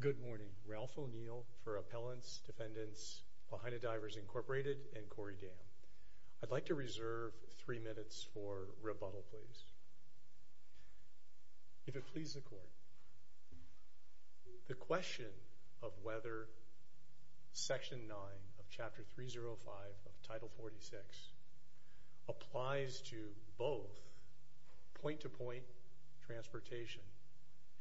Good morning. Ralph O'Neill for Appellants, Defendants, Lahaina Divers, Inc. and Corey Dam. I'd like to reserve three minutes for rebuttal, please. If it pleases the Court, the question of whether Section 9 of Chapter 305 of Title 46 applies to both point-to-point transportation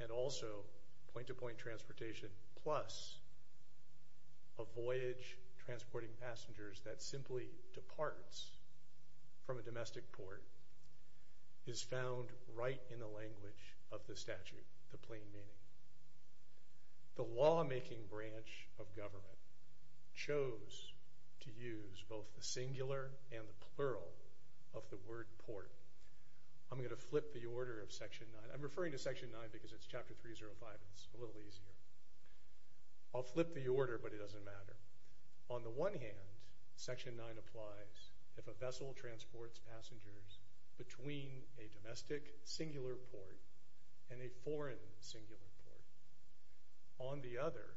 and also point-to-point transportation plus a voyage transporting passengers that simply departs from a domestic port is found right in the language of the statute, the plain meaning. The lawmaking branch of government chose to use both the singular and the plural of the word port. I'm going to flip the order of Section 9. I'm referring to Section 9 because it's Chapter 305. It's a little easier. I'll flip the order, but it doesn't matter. On the one hand, Section 9 applies if a vessel transports passengers between a domestic singular port and a foreign singular port. On the other,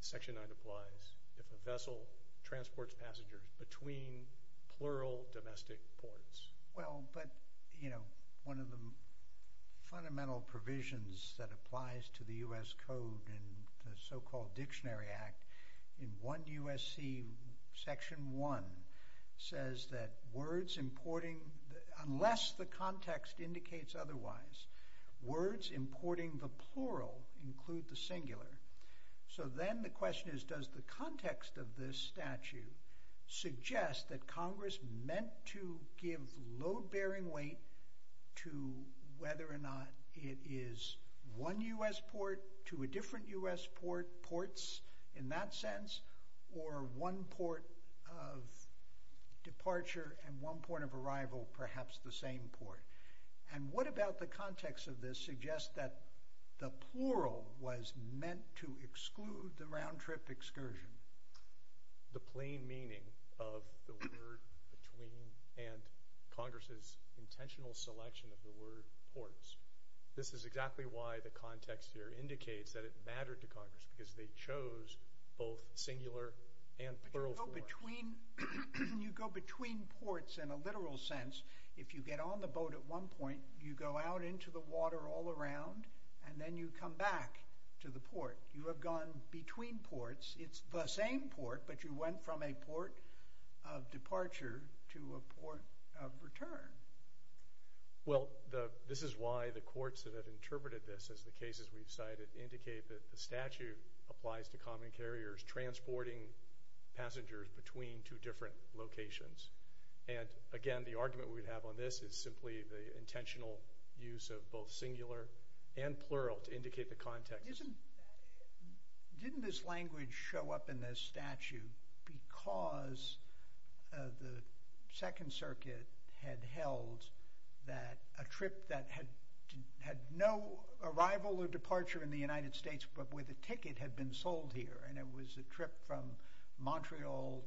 Section 9 applies if a vessel transports passengers between plural domestic ports. Well, but, you know, one of the fundamental provisions that applies to the U.S. Code and the so-called Dictionary Act in 1 U.S.C. Section 1 says that words importing—unless the context indicates otherwise— words importing the plural include the singular. So then the question is, does the context of this statute suggest that Congress meant to give load-bearing weight to whether or not it is one U.S. port to a different U.S. port, ports in that sense, or one port of departure and one port of arrival, perhaps the same port? And what about the context of this suggests that the plural was meant to exclude the round-trip excursion? The plain meaning of the word between and Congress's intentional selection of the word ports. This is exactly why the context here indicates that it mattered to Congress because they chose both singular and plural forms. But you go between ports in a literal sense. If you get on the boat at one point, you go out into the water all around, and then you come back to the port. You have gone between ports. It's the same port, but you went from a port of departure to a port of return. Well, this is why the courts that have interpreted this, as the cases we've cited, indicate that the statute applies to common carriers transporting passengers between two different locations. And, again, the argument we have on this is simply the intentional use of both singular and plural to indicate the context. Didn't this language show up in this statute because the Second Circuit had held that a trip that had no arrival or departure in the United States but with a ticket had been sold here, and it was a trip from Montreal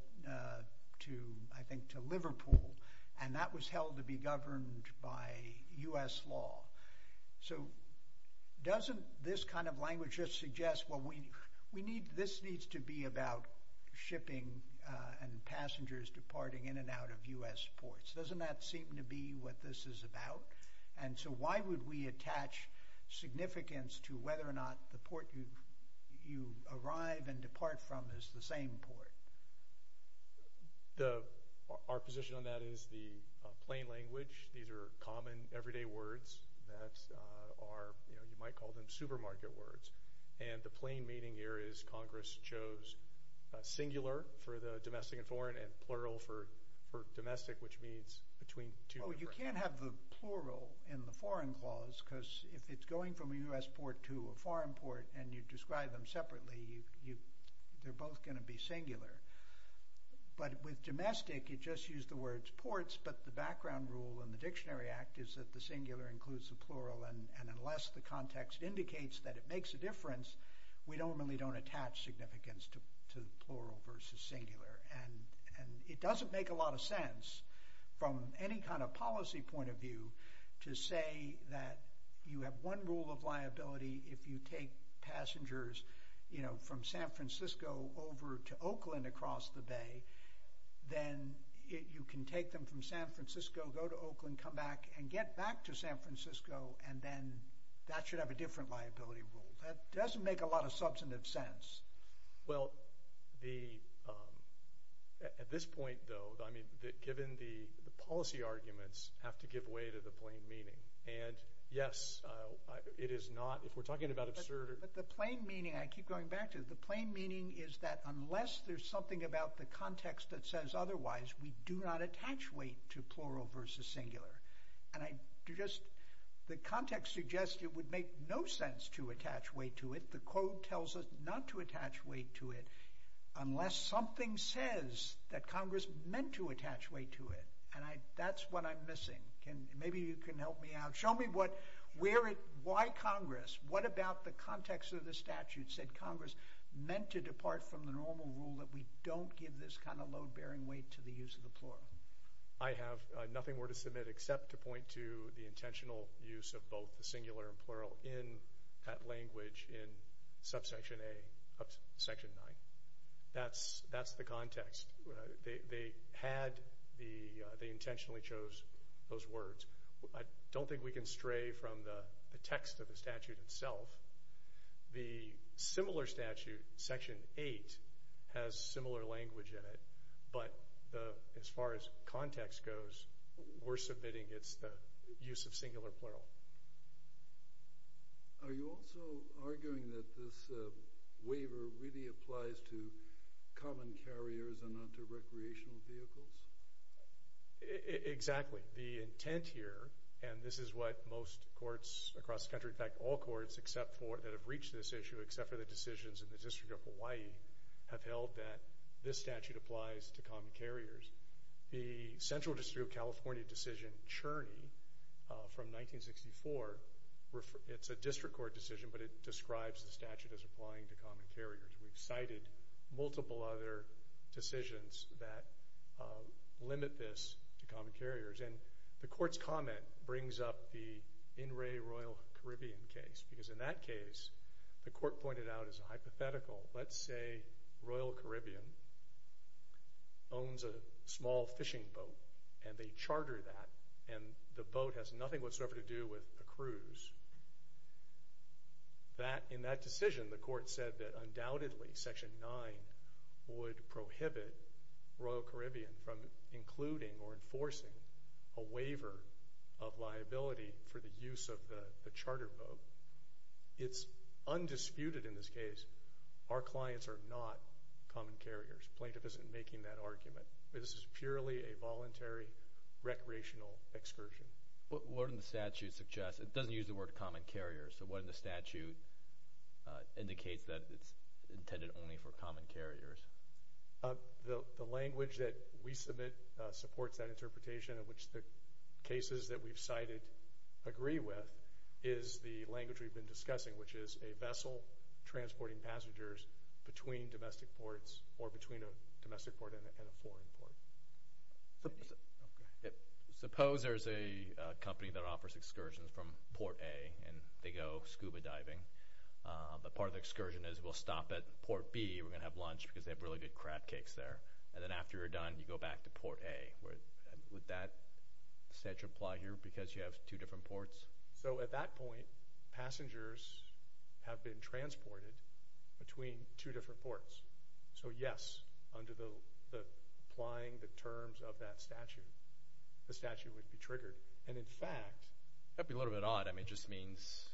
to, I think, to Liverpool, and that was held to be governed by U.S. law. So doesn't this kind of language just suggest, well, this needs to be about shipping and passengers departing in and out of U.S. ports? Doesn't that seem to be what this is about? And so why would we attach significance to whether or not the port you arrive and depart from is the same port? Our position on that is the plain language. These are common everyday words that are, you know, you might call them supermarket words. And the plain meaning here is Congress chose singular for the domestic and foreign and plural for domestic, which means between two different words. Well, you can't have the plural in the foreign clause because if it's going from a U.S. port to a foreign port and you describe them separately, they're both going to be singular. But with domestic, you just use the words ports, but the background rule in the Dictionary Act is that the singular includes the plural, and unless the context indicates that it makes a difference, we normally don't attach significance to plural versus singular. And it doesn't make a lot of sense from any kind of policy point of view to say that you have one rule of liability if you take passengers, you know, from San Francisco over to Oakland across the Bay, then you can take them from San Francisco, go to Oakland, come back and get back to San Francisco, and then that should have a different liability rule. That doesn't make a lot of substantive sense. Well, at this point, though, I mean, given the policy arguments have to give way to the plain meaning. And, yes, it is not, if we're talking about absurd... But the plain meaning, I keep going back to it, the plain meaning is that unless there's something about the context that says otherwise, we do not attach weight to plural versus singular. And I just, the context suggests it would make no sense to attach weight to it. The code tells us not to attach weight to it unless something says that Congress meant to attach weight to it. And that's what I'm missing. Maybe you can help me out. Show me why Congress, what about the context of the statute said Congress meant to depart from the normal rule that we don't give this kind of load-bearing weight to the use of the plural. I have nothing more to submit except to point to the intentional use of both the singular and plural in that language in subsection A of section 9. That's the context. They had the, they intentionally chose those words. I don't think we can stray from the text of the statute itself. The similar statute, section 8, has similar language in it. But as far as context goes, we're submitting it's the use of singular plural. Are you also arguing that this waiver really applies to common carriers and not to recreational vehicles? Exactly. The intent here, and this is what most courts across the country, in fact all courts that have reached this issue except for the decisions in the District of Hawaii, have held that this statute applies to common carriers. The Central District of California decision, Cherney, from 1964, it's a district court decision but it describes the statute as applying to common carriers. We've cited multiple other decisions that limit this to common carriers. And the court's comment brings up the In Re Royal Caribbean case because in that case the court pointed out as a hypothetical. Let's say Royal Caribbean owns a small fishing boat and they charter that and the boat has nothing whatsoever to do with a cruise. In that decision the court said that undoubtedly section 9 would prohibit Royal Caribbean from including or enforcing a waiver of liability for the use of the charter boat. It's undisputed in this case our clients are not common carriers. Plaintiff isn't making that argument. This is purely a voluntary recreational excursion. What does the statute suggest? It doesn't use the word common carrier. So what does the statute indicate that it's intended only for common carriers? The language that we submit supports that interpretation in which the cases that we've cited agree with is the language we've been discussing, which is a vessel transporting passengers between domestic ports or between a domestic port and a foreign port. Suppose there's a company that offers excursions from Port A and they go scuba diving. But part of the excursion is we'll stop at Port B. We're going to have lunch because they have really good crab cakes there. And then after you're done you go back to Port A. Would that statute apply here because you have two different ports? So at that point passengers have been transported between two different ports. So, yes, under applying the terms of that statute, the statute would be triggered. And, in fact, that would be a little bit odd. I mean it just means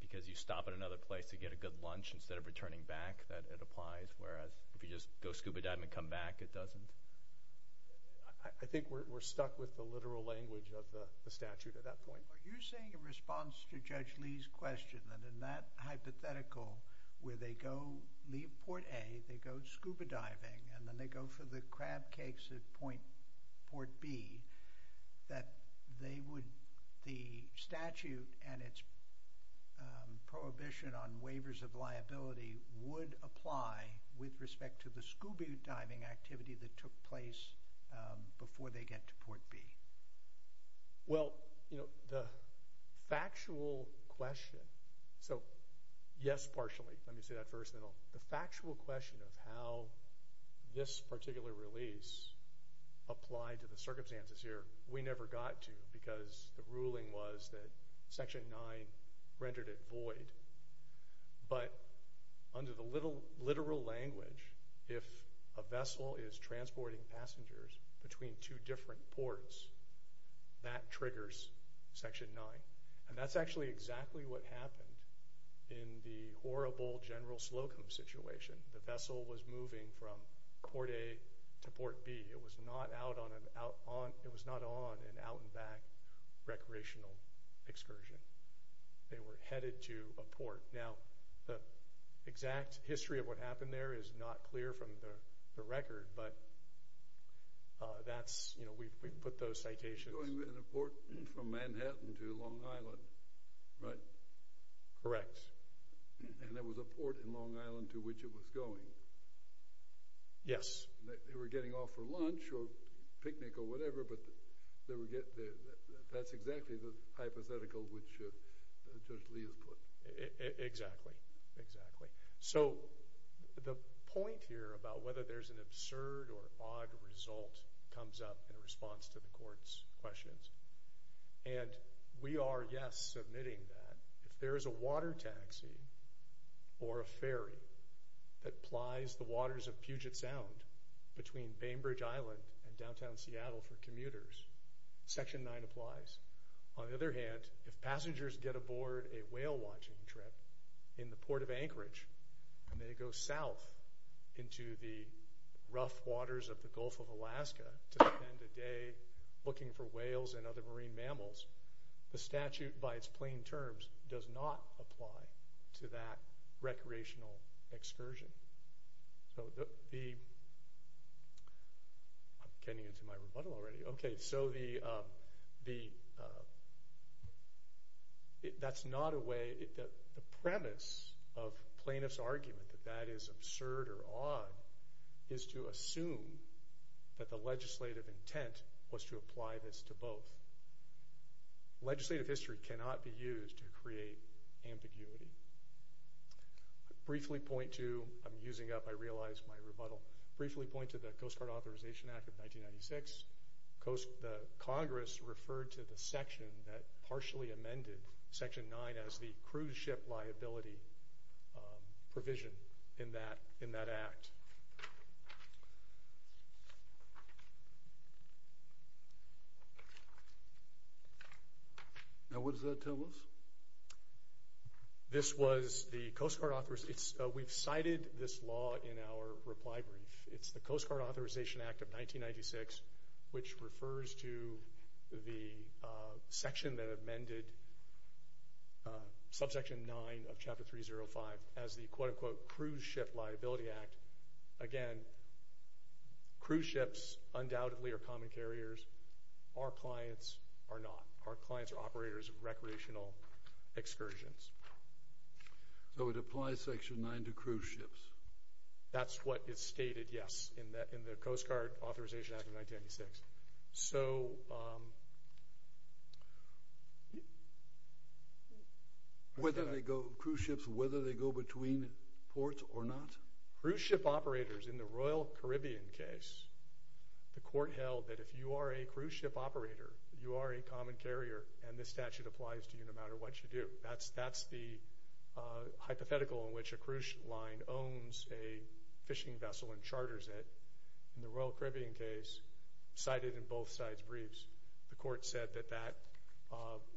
because you stop at another place to get a good lunch instead of returning back that it applies, whereas if you just go scuba diving and come back it doesn't. I think we're stuck with the literal language of the statute at that point. Are you saying in response to Judge Lee's question that in that hypothetical where they leave Port A, they go scuba diving and then they go for the crab cakes at Port B, that the statute and its prohibition on waivers of liability would apply with respect to the scuba diving activity that took place before they get to Port B? Well, you know, the factual question. So, yes, partially. Let me say that first. The factual question of how this particular release applied to the circumstances here, we never got to because the ruling was that Section 9 rendered it void. But under the literal language, if a vessel is transporting passengers between two different ports, that triggers Section 9. And that's actually exactly what happened in the horrible General Slocum situation. The vessel was moving from Port A to Port B. It was not on an out-and-back recreational excursion. They were headed to a port. Now, the exact history of what happened there is not clear from the record, but that's, you know, we put those citations. It was going in a port from Manhattan to Long Island, right? Correct. And there was a port in Long Island to which it was going? Yes. They were getting off for lunch or picnic or whatever, but that's exactly the hypothetical which Judge Lee has put. Exactly. Exactly. So the point here about whether there's an absurd or odd result comes up in response to the Court's questions. And we are, yes, submitting that. If there is a water taxi or a ferry that plies the waters of Puget Sound between Bainbridge Island and downtown Seattle for commuters, Section 9 applies. On the other hand, if passengers get aboard a whale-watching trip in the Port of Anchorage and they go south into the rough waters of the Gulf of Alaska to spend a day looking for whales and other marine mammals, the statute, by its plain terms, does not apply to that recreational excursion. I'm getting into my rebuttal already. Okay, so the premise of plaintiff's argument that that is absurd or odd is to assume that the legislative intent was to apply this to both. Legislative history cannot be used to create ambiguity. Briefly point to—I'm using up, I realize, my rebuttal. Briefly point to the Coast Guard Authorization Act of 1996. The Congress referred to the section that partially amended Section 9 as the cruise ship liability provision in that act. Now what does that tell us? This was the Coast Guard—we've cited this law in our reply brief. It's the Coast Guard Authorization Act of 1996, which refers to the section that amended Subsection 9 of Chapter 305 as the quote-unquote cruise ship liability act. Again, cruise ships undoubtedly are common carriers. Our clients are not. Our clients are operators of recreational excursions. So it applies Section 9 to cruise ships. That's what is stated, yes, in the Coast Guard Authorization Act of 1996. Whether they go—cruise ships, whether they go between ports or not? Cruise ship operators, in the Royal Caribbean case, the court held that if you are a cruise ship operator, you are a common carrier, and this statute applies to you no matter what you do. That's the hypothetical in which a cruise line owns a fishing vessel and charters it. In the Royal Caribbean case, cited in both sides' briefs, the court said that that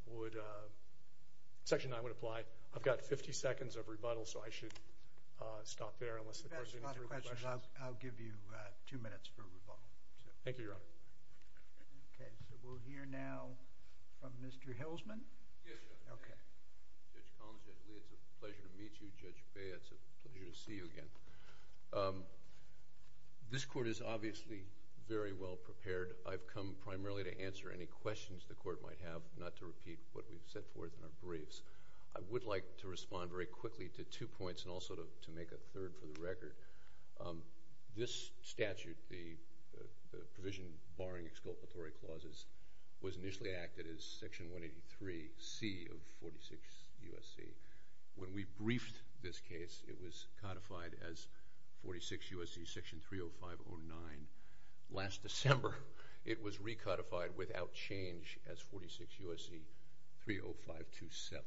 would—Section 9 would apply. I've got 50 seconds of rebuttal, so I should stop there unless the court has any other questions. I'll give you two minutes for rebuttal. Thank you, Your Honor. Okay. So we'll hear now from Mr. Hilsman. Yes, Your Honor. Okay. Judge Collins, it's a pleasure to meet you, Judge Bey. It's a pleasure to see you again. This court is obviously very well prepared. I've come primarily to answer any questions the court might have, not to repeat what we've set forth in our briefs. I would like to respond very quickly to two points and also to make a third for the record. This statute, the provision barring exculpatory clauses, was initially acted as Section 183C of 46 U.S.C. When we briefed this case, it was codified as 46 U.S.C. Section 30509. Last December, it was recodified without change as 46 U.S.C. 30527.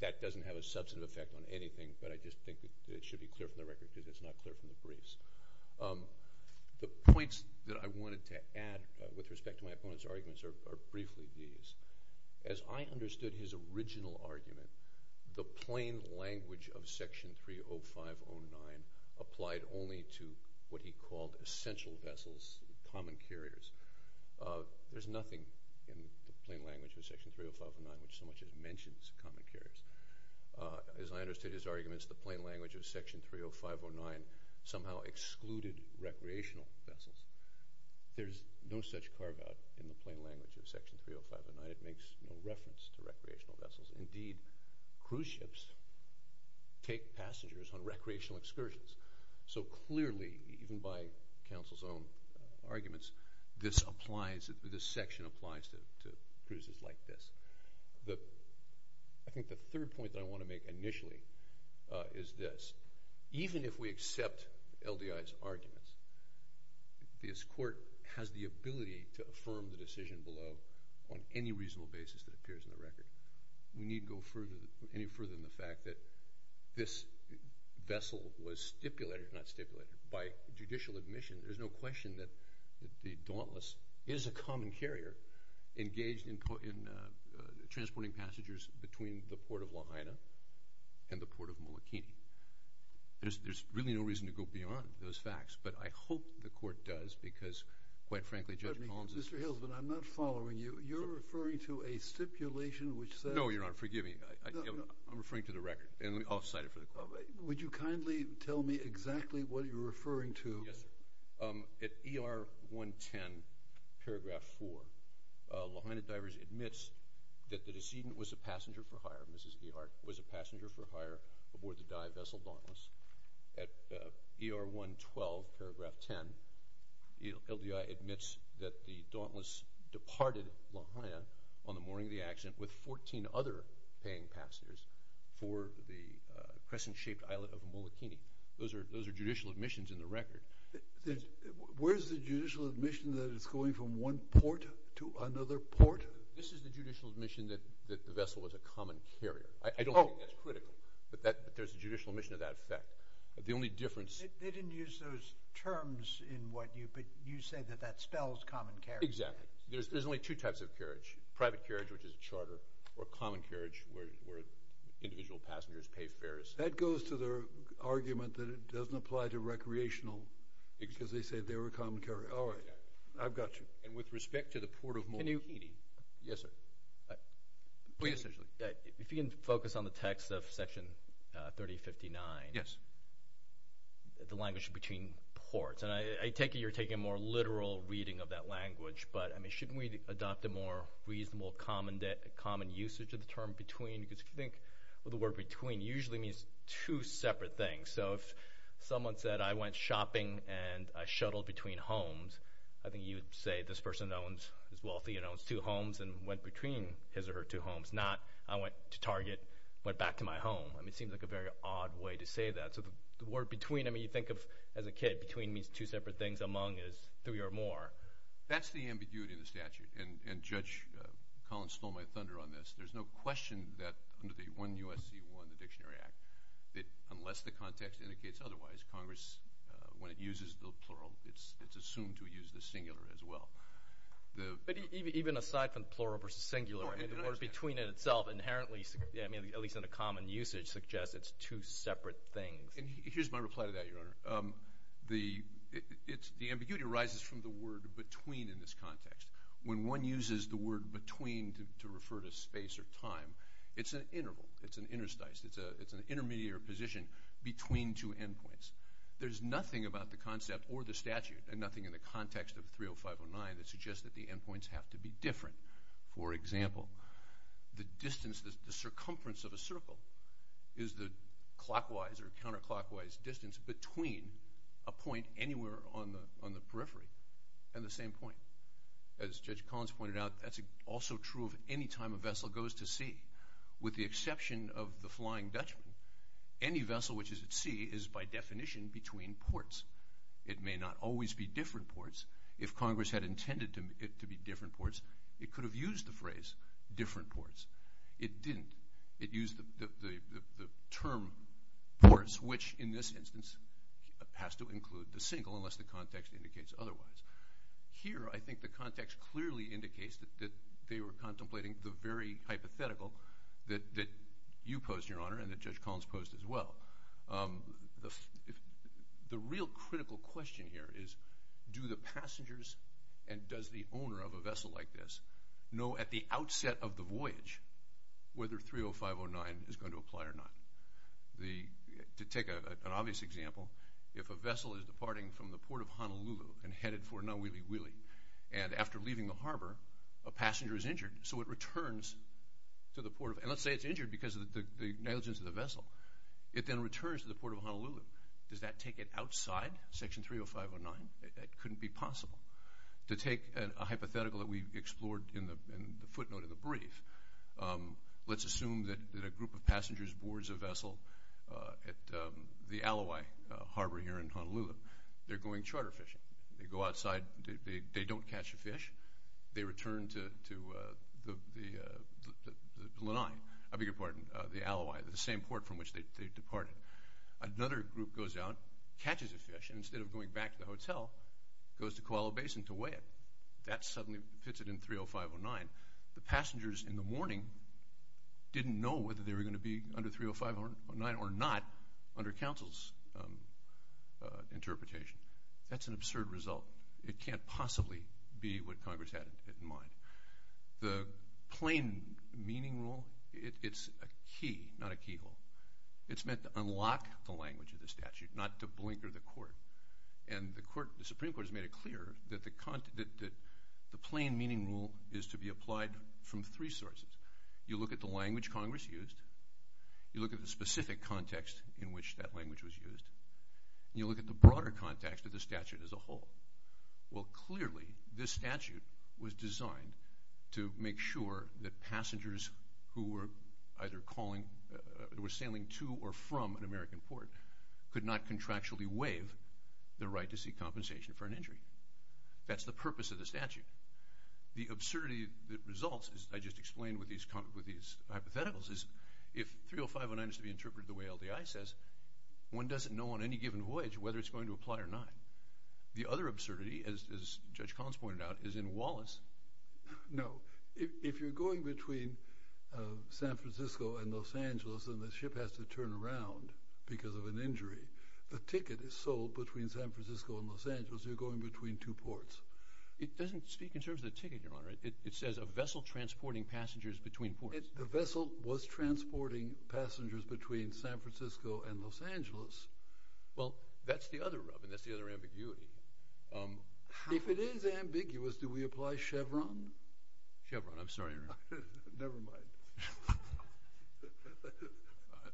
That doesn't have a substantive effect on anything, but I just think it should be clear from the record because it's not clear from the briefs. The points that I wanted to add with respect to my opponent's arguments are briefly these. As I understood his original argument, the plain language of Section 30509 applied only to what he called essential vessels, common carriers. There's nothing in the plain language of Section 30509 which so much as mentions common carriers. As I understood his arguments, the plain language of Section 30509 somehow excluded recreational vessels. There's no such carve-out in the plain language of Section 30509. It makes no reference to recreational vessels. Indeed, cruise ships take passengers on recreational excursions. So clearly, even by counsel's own arguments, this section applies to cruises like this. I think the third point that I want to make initially is this. Even if we accept LDI's arguments, this court has the ability to affirm the decision below on any reasonable basis that appears in the record. We needn't go any further than the fact that this vessel was stipulated, if not stipulated, by judicial admission. There's no question that the Dauntless is a common carrier engaged in transporting passengers between the Port of Lahaina and the Port of Molokini. There's really no reason to go beyond those facts, but I hope the court does because, quite frankly, Judge Collins is— Mr. Hillsman, I'm not following you. You're referring to a stipulation which says— No, Your Honor. Forgive me. I'm referring to the record, and I'll cite it for the court. Would you kindly tell me exactly what you're referring to? Yes, sir. At ER 110, paragraph 4, Lahaina Divers admits that the decedent was a passenger for hire, Mrs. Ehart, was a passenger for hire aboard the dive vessel Dauntless. At ER 112, paragraph 10, LDI admits that the Dauntless departed Lahaina on the morning of the accident with 14 other paying passengers for the crescent-shaped islet of Molokini. Those are judicial admissions in the record. Where's the judicial admission that it's going from one port to another port? This is the judicial admission that the vessel was a common carrier. I don't think that's critical, but there's a judicial admission of that effect. The only difference— They didn't use those terms in what you—but you say that that spells common carriage. Exactly. There's only two types of carriage—private carriage, which is a charter, or common carriage, where individual passengers pay fares. That goes to their argument that it doesn't apply to recreational, because they say they were a common carrier. All right. I've got you. And with respect to the port of Molokini— Can you— Yes, sir. Please. If you can focus on the text of Section 3059, the language between ports. And I take it you're taking a more literal reading of that language, but, I mean, shouldn't we adopt a more reasonable, common usage of the term between? Because if you think of the word between, it usually means two separate things. So if someone said, I went shopping and I shuttled between homes, I think you would say this person is wealthy and owns two homes and went between his or her two homes. Not, I went to Target, went back to my home. I mean, it seems like a very odd way to say that. So the word between—I mean, you think of, as a kid, between means two separate things. Among is three or more. That's the ambiguity in the statute. And Judge Collins stole my thunder on this. There's no question that under the 1 U.S.C. 1, the Dictionary Act, that unless the context indicates otherwise, Congress, when it uses the plural, it's assumed to use the singular as well. But even aside from plural versus singular, I mean, the word between in itself inherently—I mean, at least in a common usage—suggests it's two separate things. Here's my reply to that, Your Honor. The ambiguity arises from the word between in this context. When one uses the word between to refer to space or time, it's an interval. It's an interstice. It's an intermediary position between two endpoints. There's nothing about the concept or the statute and nothing in the context of 30509 that suggests that the endpoints have to be different. For example, the distance, the circumference of a circle is the clockwise or counterclockwise distance between a point anywhere on the periphery and the same point. As Judge Collins pointed out, that's also true of any time a vessel goes to sea. With the exception of the Flying Dutchman, any vessel which is at sea is by definition between ports. It may not always be different ports. If Congress had intended it to be different ports, it could have used the phrase different ports. It didn't. It used the term ports, which in this instance has to include the single unless the context indicates otherwise. Here, I think the context clearly indicates that they were contemplating the very hypothetical that you posed, Your Honor, and that Judge Collins posed as well. The real critical question here is do the passengers and does the owner of a vessel like this know at the outset of the voyage whether 30509 is going to apply or not? To take an obvious example, if a vessel is departing from the Port of Honolulu and headed for Nauwiwiwi, and after leaving the harbor, a passenger is injured, so it returns to the Port of Honolulu. Let's say it's injured because of the negligence of the vessel. It then returns to the Port of Honolulu. Does that take it outside Section 30509? That couldn't be possible. To take a hypothetical that we explored in the footnote of the brief, let's assume that a group of passengers boards a vessel at the Alawai Harbor here in Honolulu. They're going charter fishing. They go outside. They don't catch a fish. They return to the Alawai, the same port from which they departed. Another group goes out, catches a fish, and instead of going back to the hotel, goes to Koala Basin to weigh it. That suddenly fits it in 30509. The passengers in the morning didn't know whether they were going to be under 30509 or not under counsel's interpretation. That's an absurd result. It can't possibly be what Congress had in mind. The plain meaning rule, it's a key, not a keyhole. It's meant to unlock the language of the statute, not to blinker the court. The Supreme Court has made it clear that the plain meaning rule is to be applied from three sources. You look at the language Congress used. You look at the specific context in which that language was used. You look at the broader context of the statute as a whole. Well, clearly, this statute was designed to make sure that passengers who were either calling or were sailing to or from an American port could not contractually waive their right to seek compensation for an injury. That's the purpose of the statute. The absurdity that results, as I just explained with these hypotheticals, is if 30509 is to be interpreted the way LDI says, one doesn't know on any given voyage whether it's going to apply or not. The other absurdity, as Judge Collins pointed out, is in Wallace. No. If you're going between San Francisco and Los Angeles and the ship has to turn around because of an injury, the ticket is sold between San Francisco and Los Angeles. You're going between two ports. It doesn't speak in terms of the ticket, Your Honor. It says a vessel transporting passengers between ports. The vessel was transporting passengers between San Francisco and Los Angeles. Well, that's the other rub, and that's the other ambiguity. If it is ambiguous, do we apply Chevron? Chevron. I'm sorry, Your Honor. Never mind.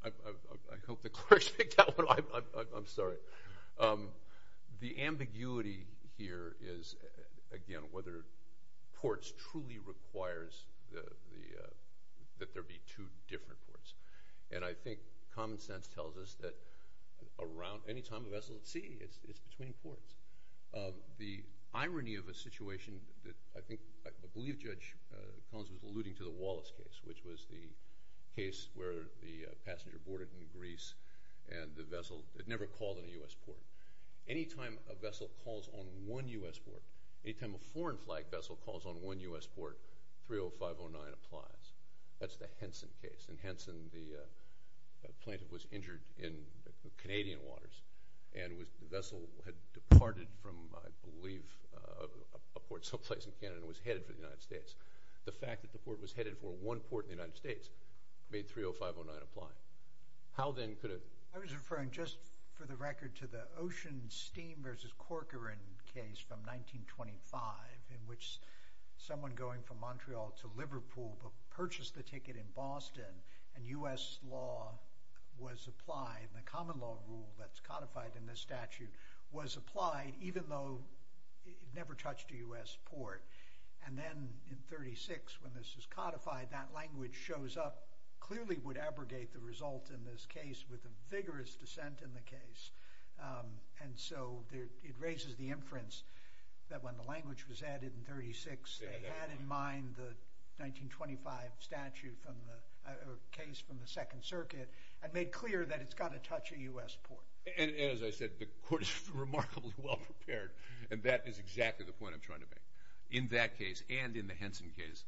I hope the clerks picked that one. I'm sorry. The ambiguity here is, again, whether ports truly requires that there be two different ports. And I think common sense tells us that any time a vessel is at sea, it's between ports. The irony of a situation that I believe Judge Collins was alluding to the Wallace case, which was the case where the passenger boarded in Greece and the vessel had never called on a U.S. port. Any time a vessel calls on one U.S. port, any time a foreign flag vessel calls on one U.S. port, 30509 applies. That's the Henson case. In Henson, the plaintiff was injured in Canadian waters, and the vessel had departed from, I believe, a port someplace in Canada and was headed for the United States. The fact that the port was headed for one port in the United States made 30509 apply. How then could a— I was referring, just for the record, to the Ocean Steam v. Corcoran case from 1925, in which someone going from Montreal to Liverpool purchased the ticket in Boston, and U.S. law was applied, and the common law rule that's codified in this statute was applied, even though it never touched a U.S. port. And then in 1936, when this is codified, that language shows up, clearly would abrogate the result in this case with a vigorous dissent in the case. And so it raises the inference that when the language was added in 1936, they had in mind the 1925 statute from the—or case from the Second Circuit and made clear that it's got to touch a U.S. port. And as I said, the court is remarkably well prepared, and that is exactly the point I'm trying to make. In that case and in the Henson case,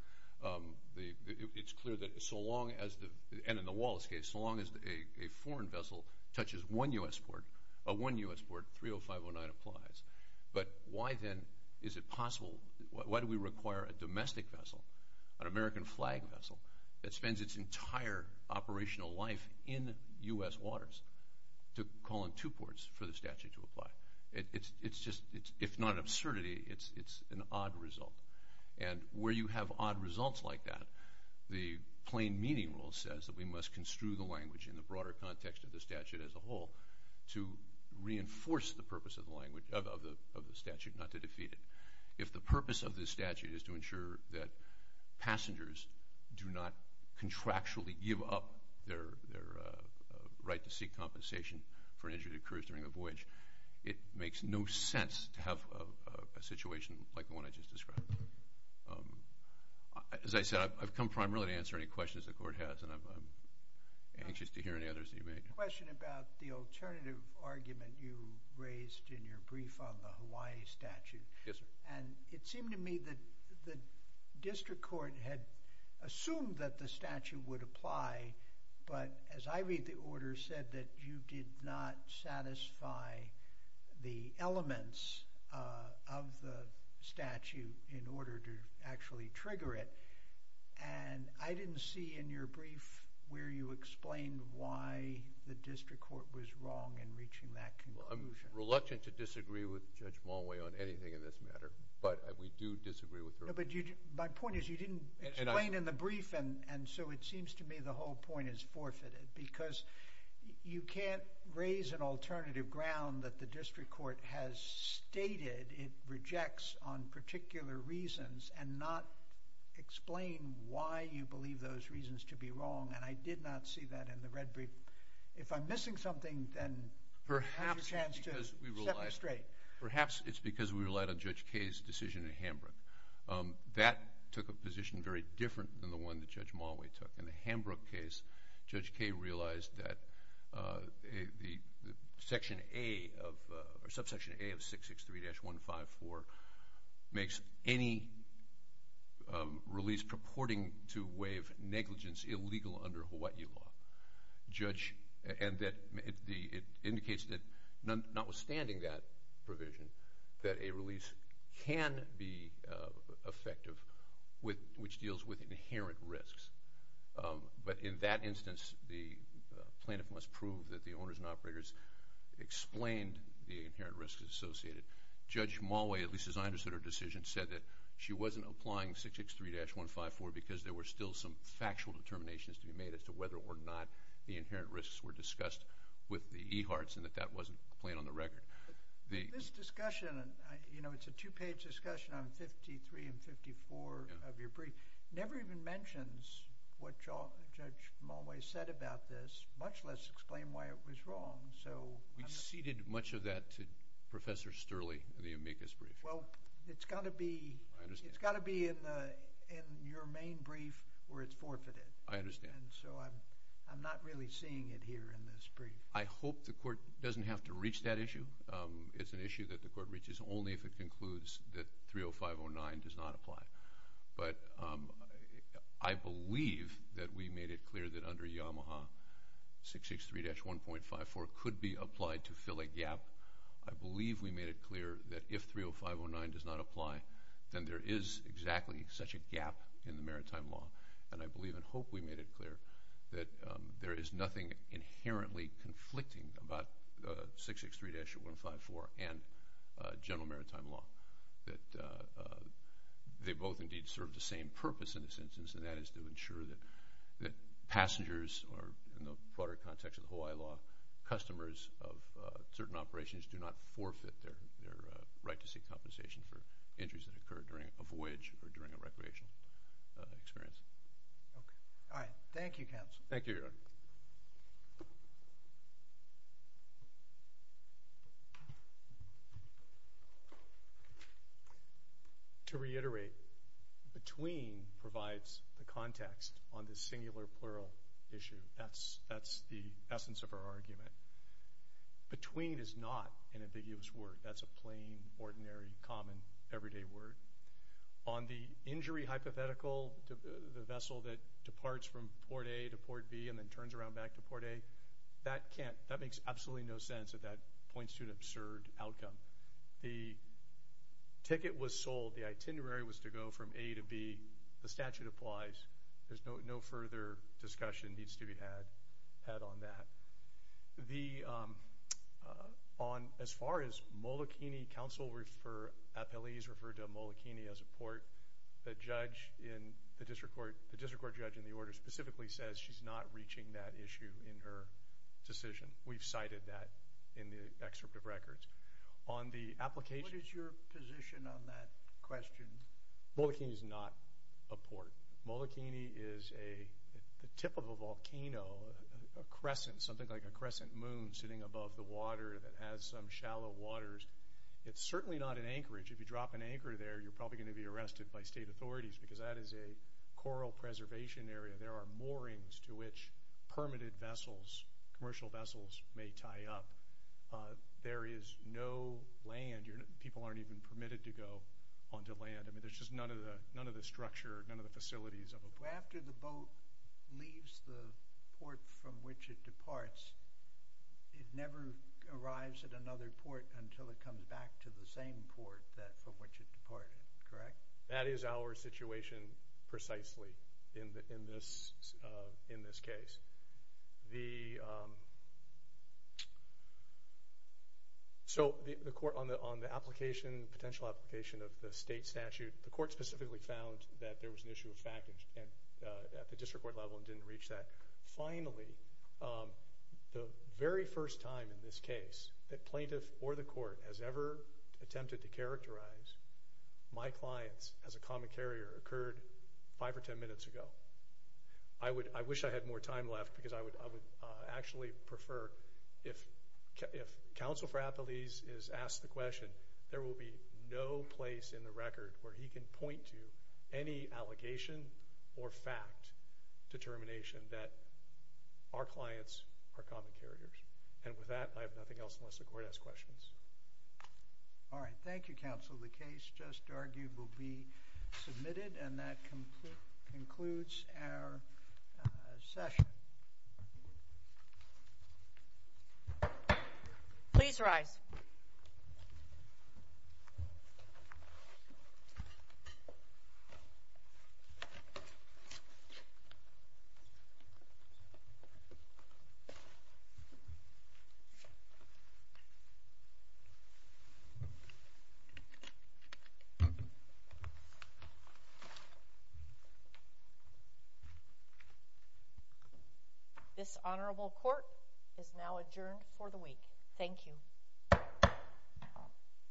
it's clear that so long as the—and in the Wallace case, so long as a foreign vessel touches one U.S. port, a one U.S. port, 30509 applies. But why then is it possible—why do we require a domestic vessel, an American flag vessel, that spends its entire operational life in U.S. waters, to call in two ports for the statute to apply? It's just—if not an absurdity, it's an odd result. And where you have odd results like that, the plain meaning rule says that we must construe the language in the broader context of the statute as a whole to reinforce the purpose of the language—of the statute, not to defeat it. If the purpose of this statute is to ensure that passengers do not contractually give up their right to seek compensation for an injury to a cruise during a voyage, it makes no sense to have a situation like the one I just described. As I said, I've come primarily to answer any questions the Court has, and I'm anxious to hear any others that you may have. Question about the alternative argument you raised in your brief on the Hawaii statute. Yes, sir. And it seemed to me that the district court had assumed that the statute would apply, but as I read the order, it said that you did not satisfy the elements of the statute in order to actually trigger it. And I didn't see in your brief where you explained why the district court was wrong in reaching that conclusion. Well, I'm reluctant to disagree with Judge Mulway on anything in this matter, but we do disagree with her. No, but my point is you didn't explain in the brief, and so it seems to me the whole point is forfeited because you can't raise an alternative ground that the district court has stated it rejects on particular reasons and not explain why you believe those reasons to be wrong, and I did not see that in the red brief. If I'm missing something, then perhaps it's your chance to set me straight. Perhaps it's because we relied on Judge Kaye's decision in Hambrook. That took a position very different than the one that Judge Mulway took. In the Hambrook case, Judge Kaye realized that the subsection A of 663-154 makes any release purporting to waive negligence illegal under Hawaii law. And it indicates that notwithstanding that provision, that a release can be effective, which deals with inherent risks. But in that instance, the plaintiff must prove that the owners and operators explained the inherent risks associated. Judge Mulway, at least as I understood her decision, said that she wasn't applying 663-154 because there were still some factual determinations to be made as to whether or not the inherent risks were discussed with the EHARTS and that that wasn't playing on the record. This discussion, you know, it's a two-page discussion on 53 and 54 of your brief. It never even mentions what Judge Mulway said about this, much less explain why it was wrong. We ceded much of that to Professor Sterling in the amicus brief. Well, it's got to be in your main brief where it's forfeited. I understand. And so I'm not really seeing it here in this brief. I hope the court doesn't have to reach that issue. It's an issue that the court reaches only if it concludes that 30509 does not apply. But I believe that we made it clear that under Yamaha, 663-1.54 could be applied to fill a gap. I believe we made it clear that if 30509 does not apply, then there is exactly such a gap in the maritime law. And I believe and hope we made it clear that there is nothing inherently conflicting about 663-154 and general maritime law, that they both indeed serve the same purpose in this instance, and that is to ensure that passengers are, in the broader context of the Hawaii law, customers of certain operations do not forfeit their right to seek compensation for injuries that occur during a voyage or during a recreational experience. All right. Thank you, counsel. Thank you, Your Honor. To reiterate, between provides the context on this singular plural issue. That's the essence of our argument. Between is not an ambiguous word. That's a plain, ordinary, common, everyday word. On the injury hypothetical, the vessel that departs from Port A to Port B and then turns around back to Port A, that makes absolutely no sense if that points to an absurd outcome. The ticket was sold. The itinerary was to go from A to B. The statute applies. There's no further discussion that needs to be had on that. As far as Molokini, counsel refer, appellees refer to Molokini as a port, the district court judge in the order specifically says she's not reaching that issue in her decision. We've cited that in the excerpt of records. What is your position on that question? Molokini is not a port. Molokini is the tip of a volcano, a crescent, something like a crescent moon, sitting above the water that has some shallow waters. It's certainly not an anchorage. If you drop an anchor there, you're probably going to be arrested by state authorities, because that is a coral preservation area. There are moorings to which permitted vessels, commercial vessels, may tie up. There is no land. People aren't even permitted to go onto land. There's just none of the structure, none of the facilities of a port. After the boat leaves the port from which it departs, it never arrives at another port until it comes back to the same port from which it departed, correct? That is our situation precisely in this case. The court, on the potential application of the state statute, the court specifically found that there was an issue of fact at the district court level and didn't reach that. Finally, the very first time in this case that plaintiff or the court has ever attempted to characterize my clients as a common carrier occurred five or ten minutes ago. I wish I had more time left, because I would actually prefer, if counsel for Appelese is asked the question, there will be no place in the record where he can point to any allegation or fact determination that our clients are common carriers. And with that, I have nothing else unless the court asks questions. All right. Thank you, counsel. The case just argued will be submitted, and that concludes our session. Please rise. This honorable court is now adjourned for the week. Thank you.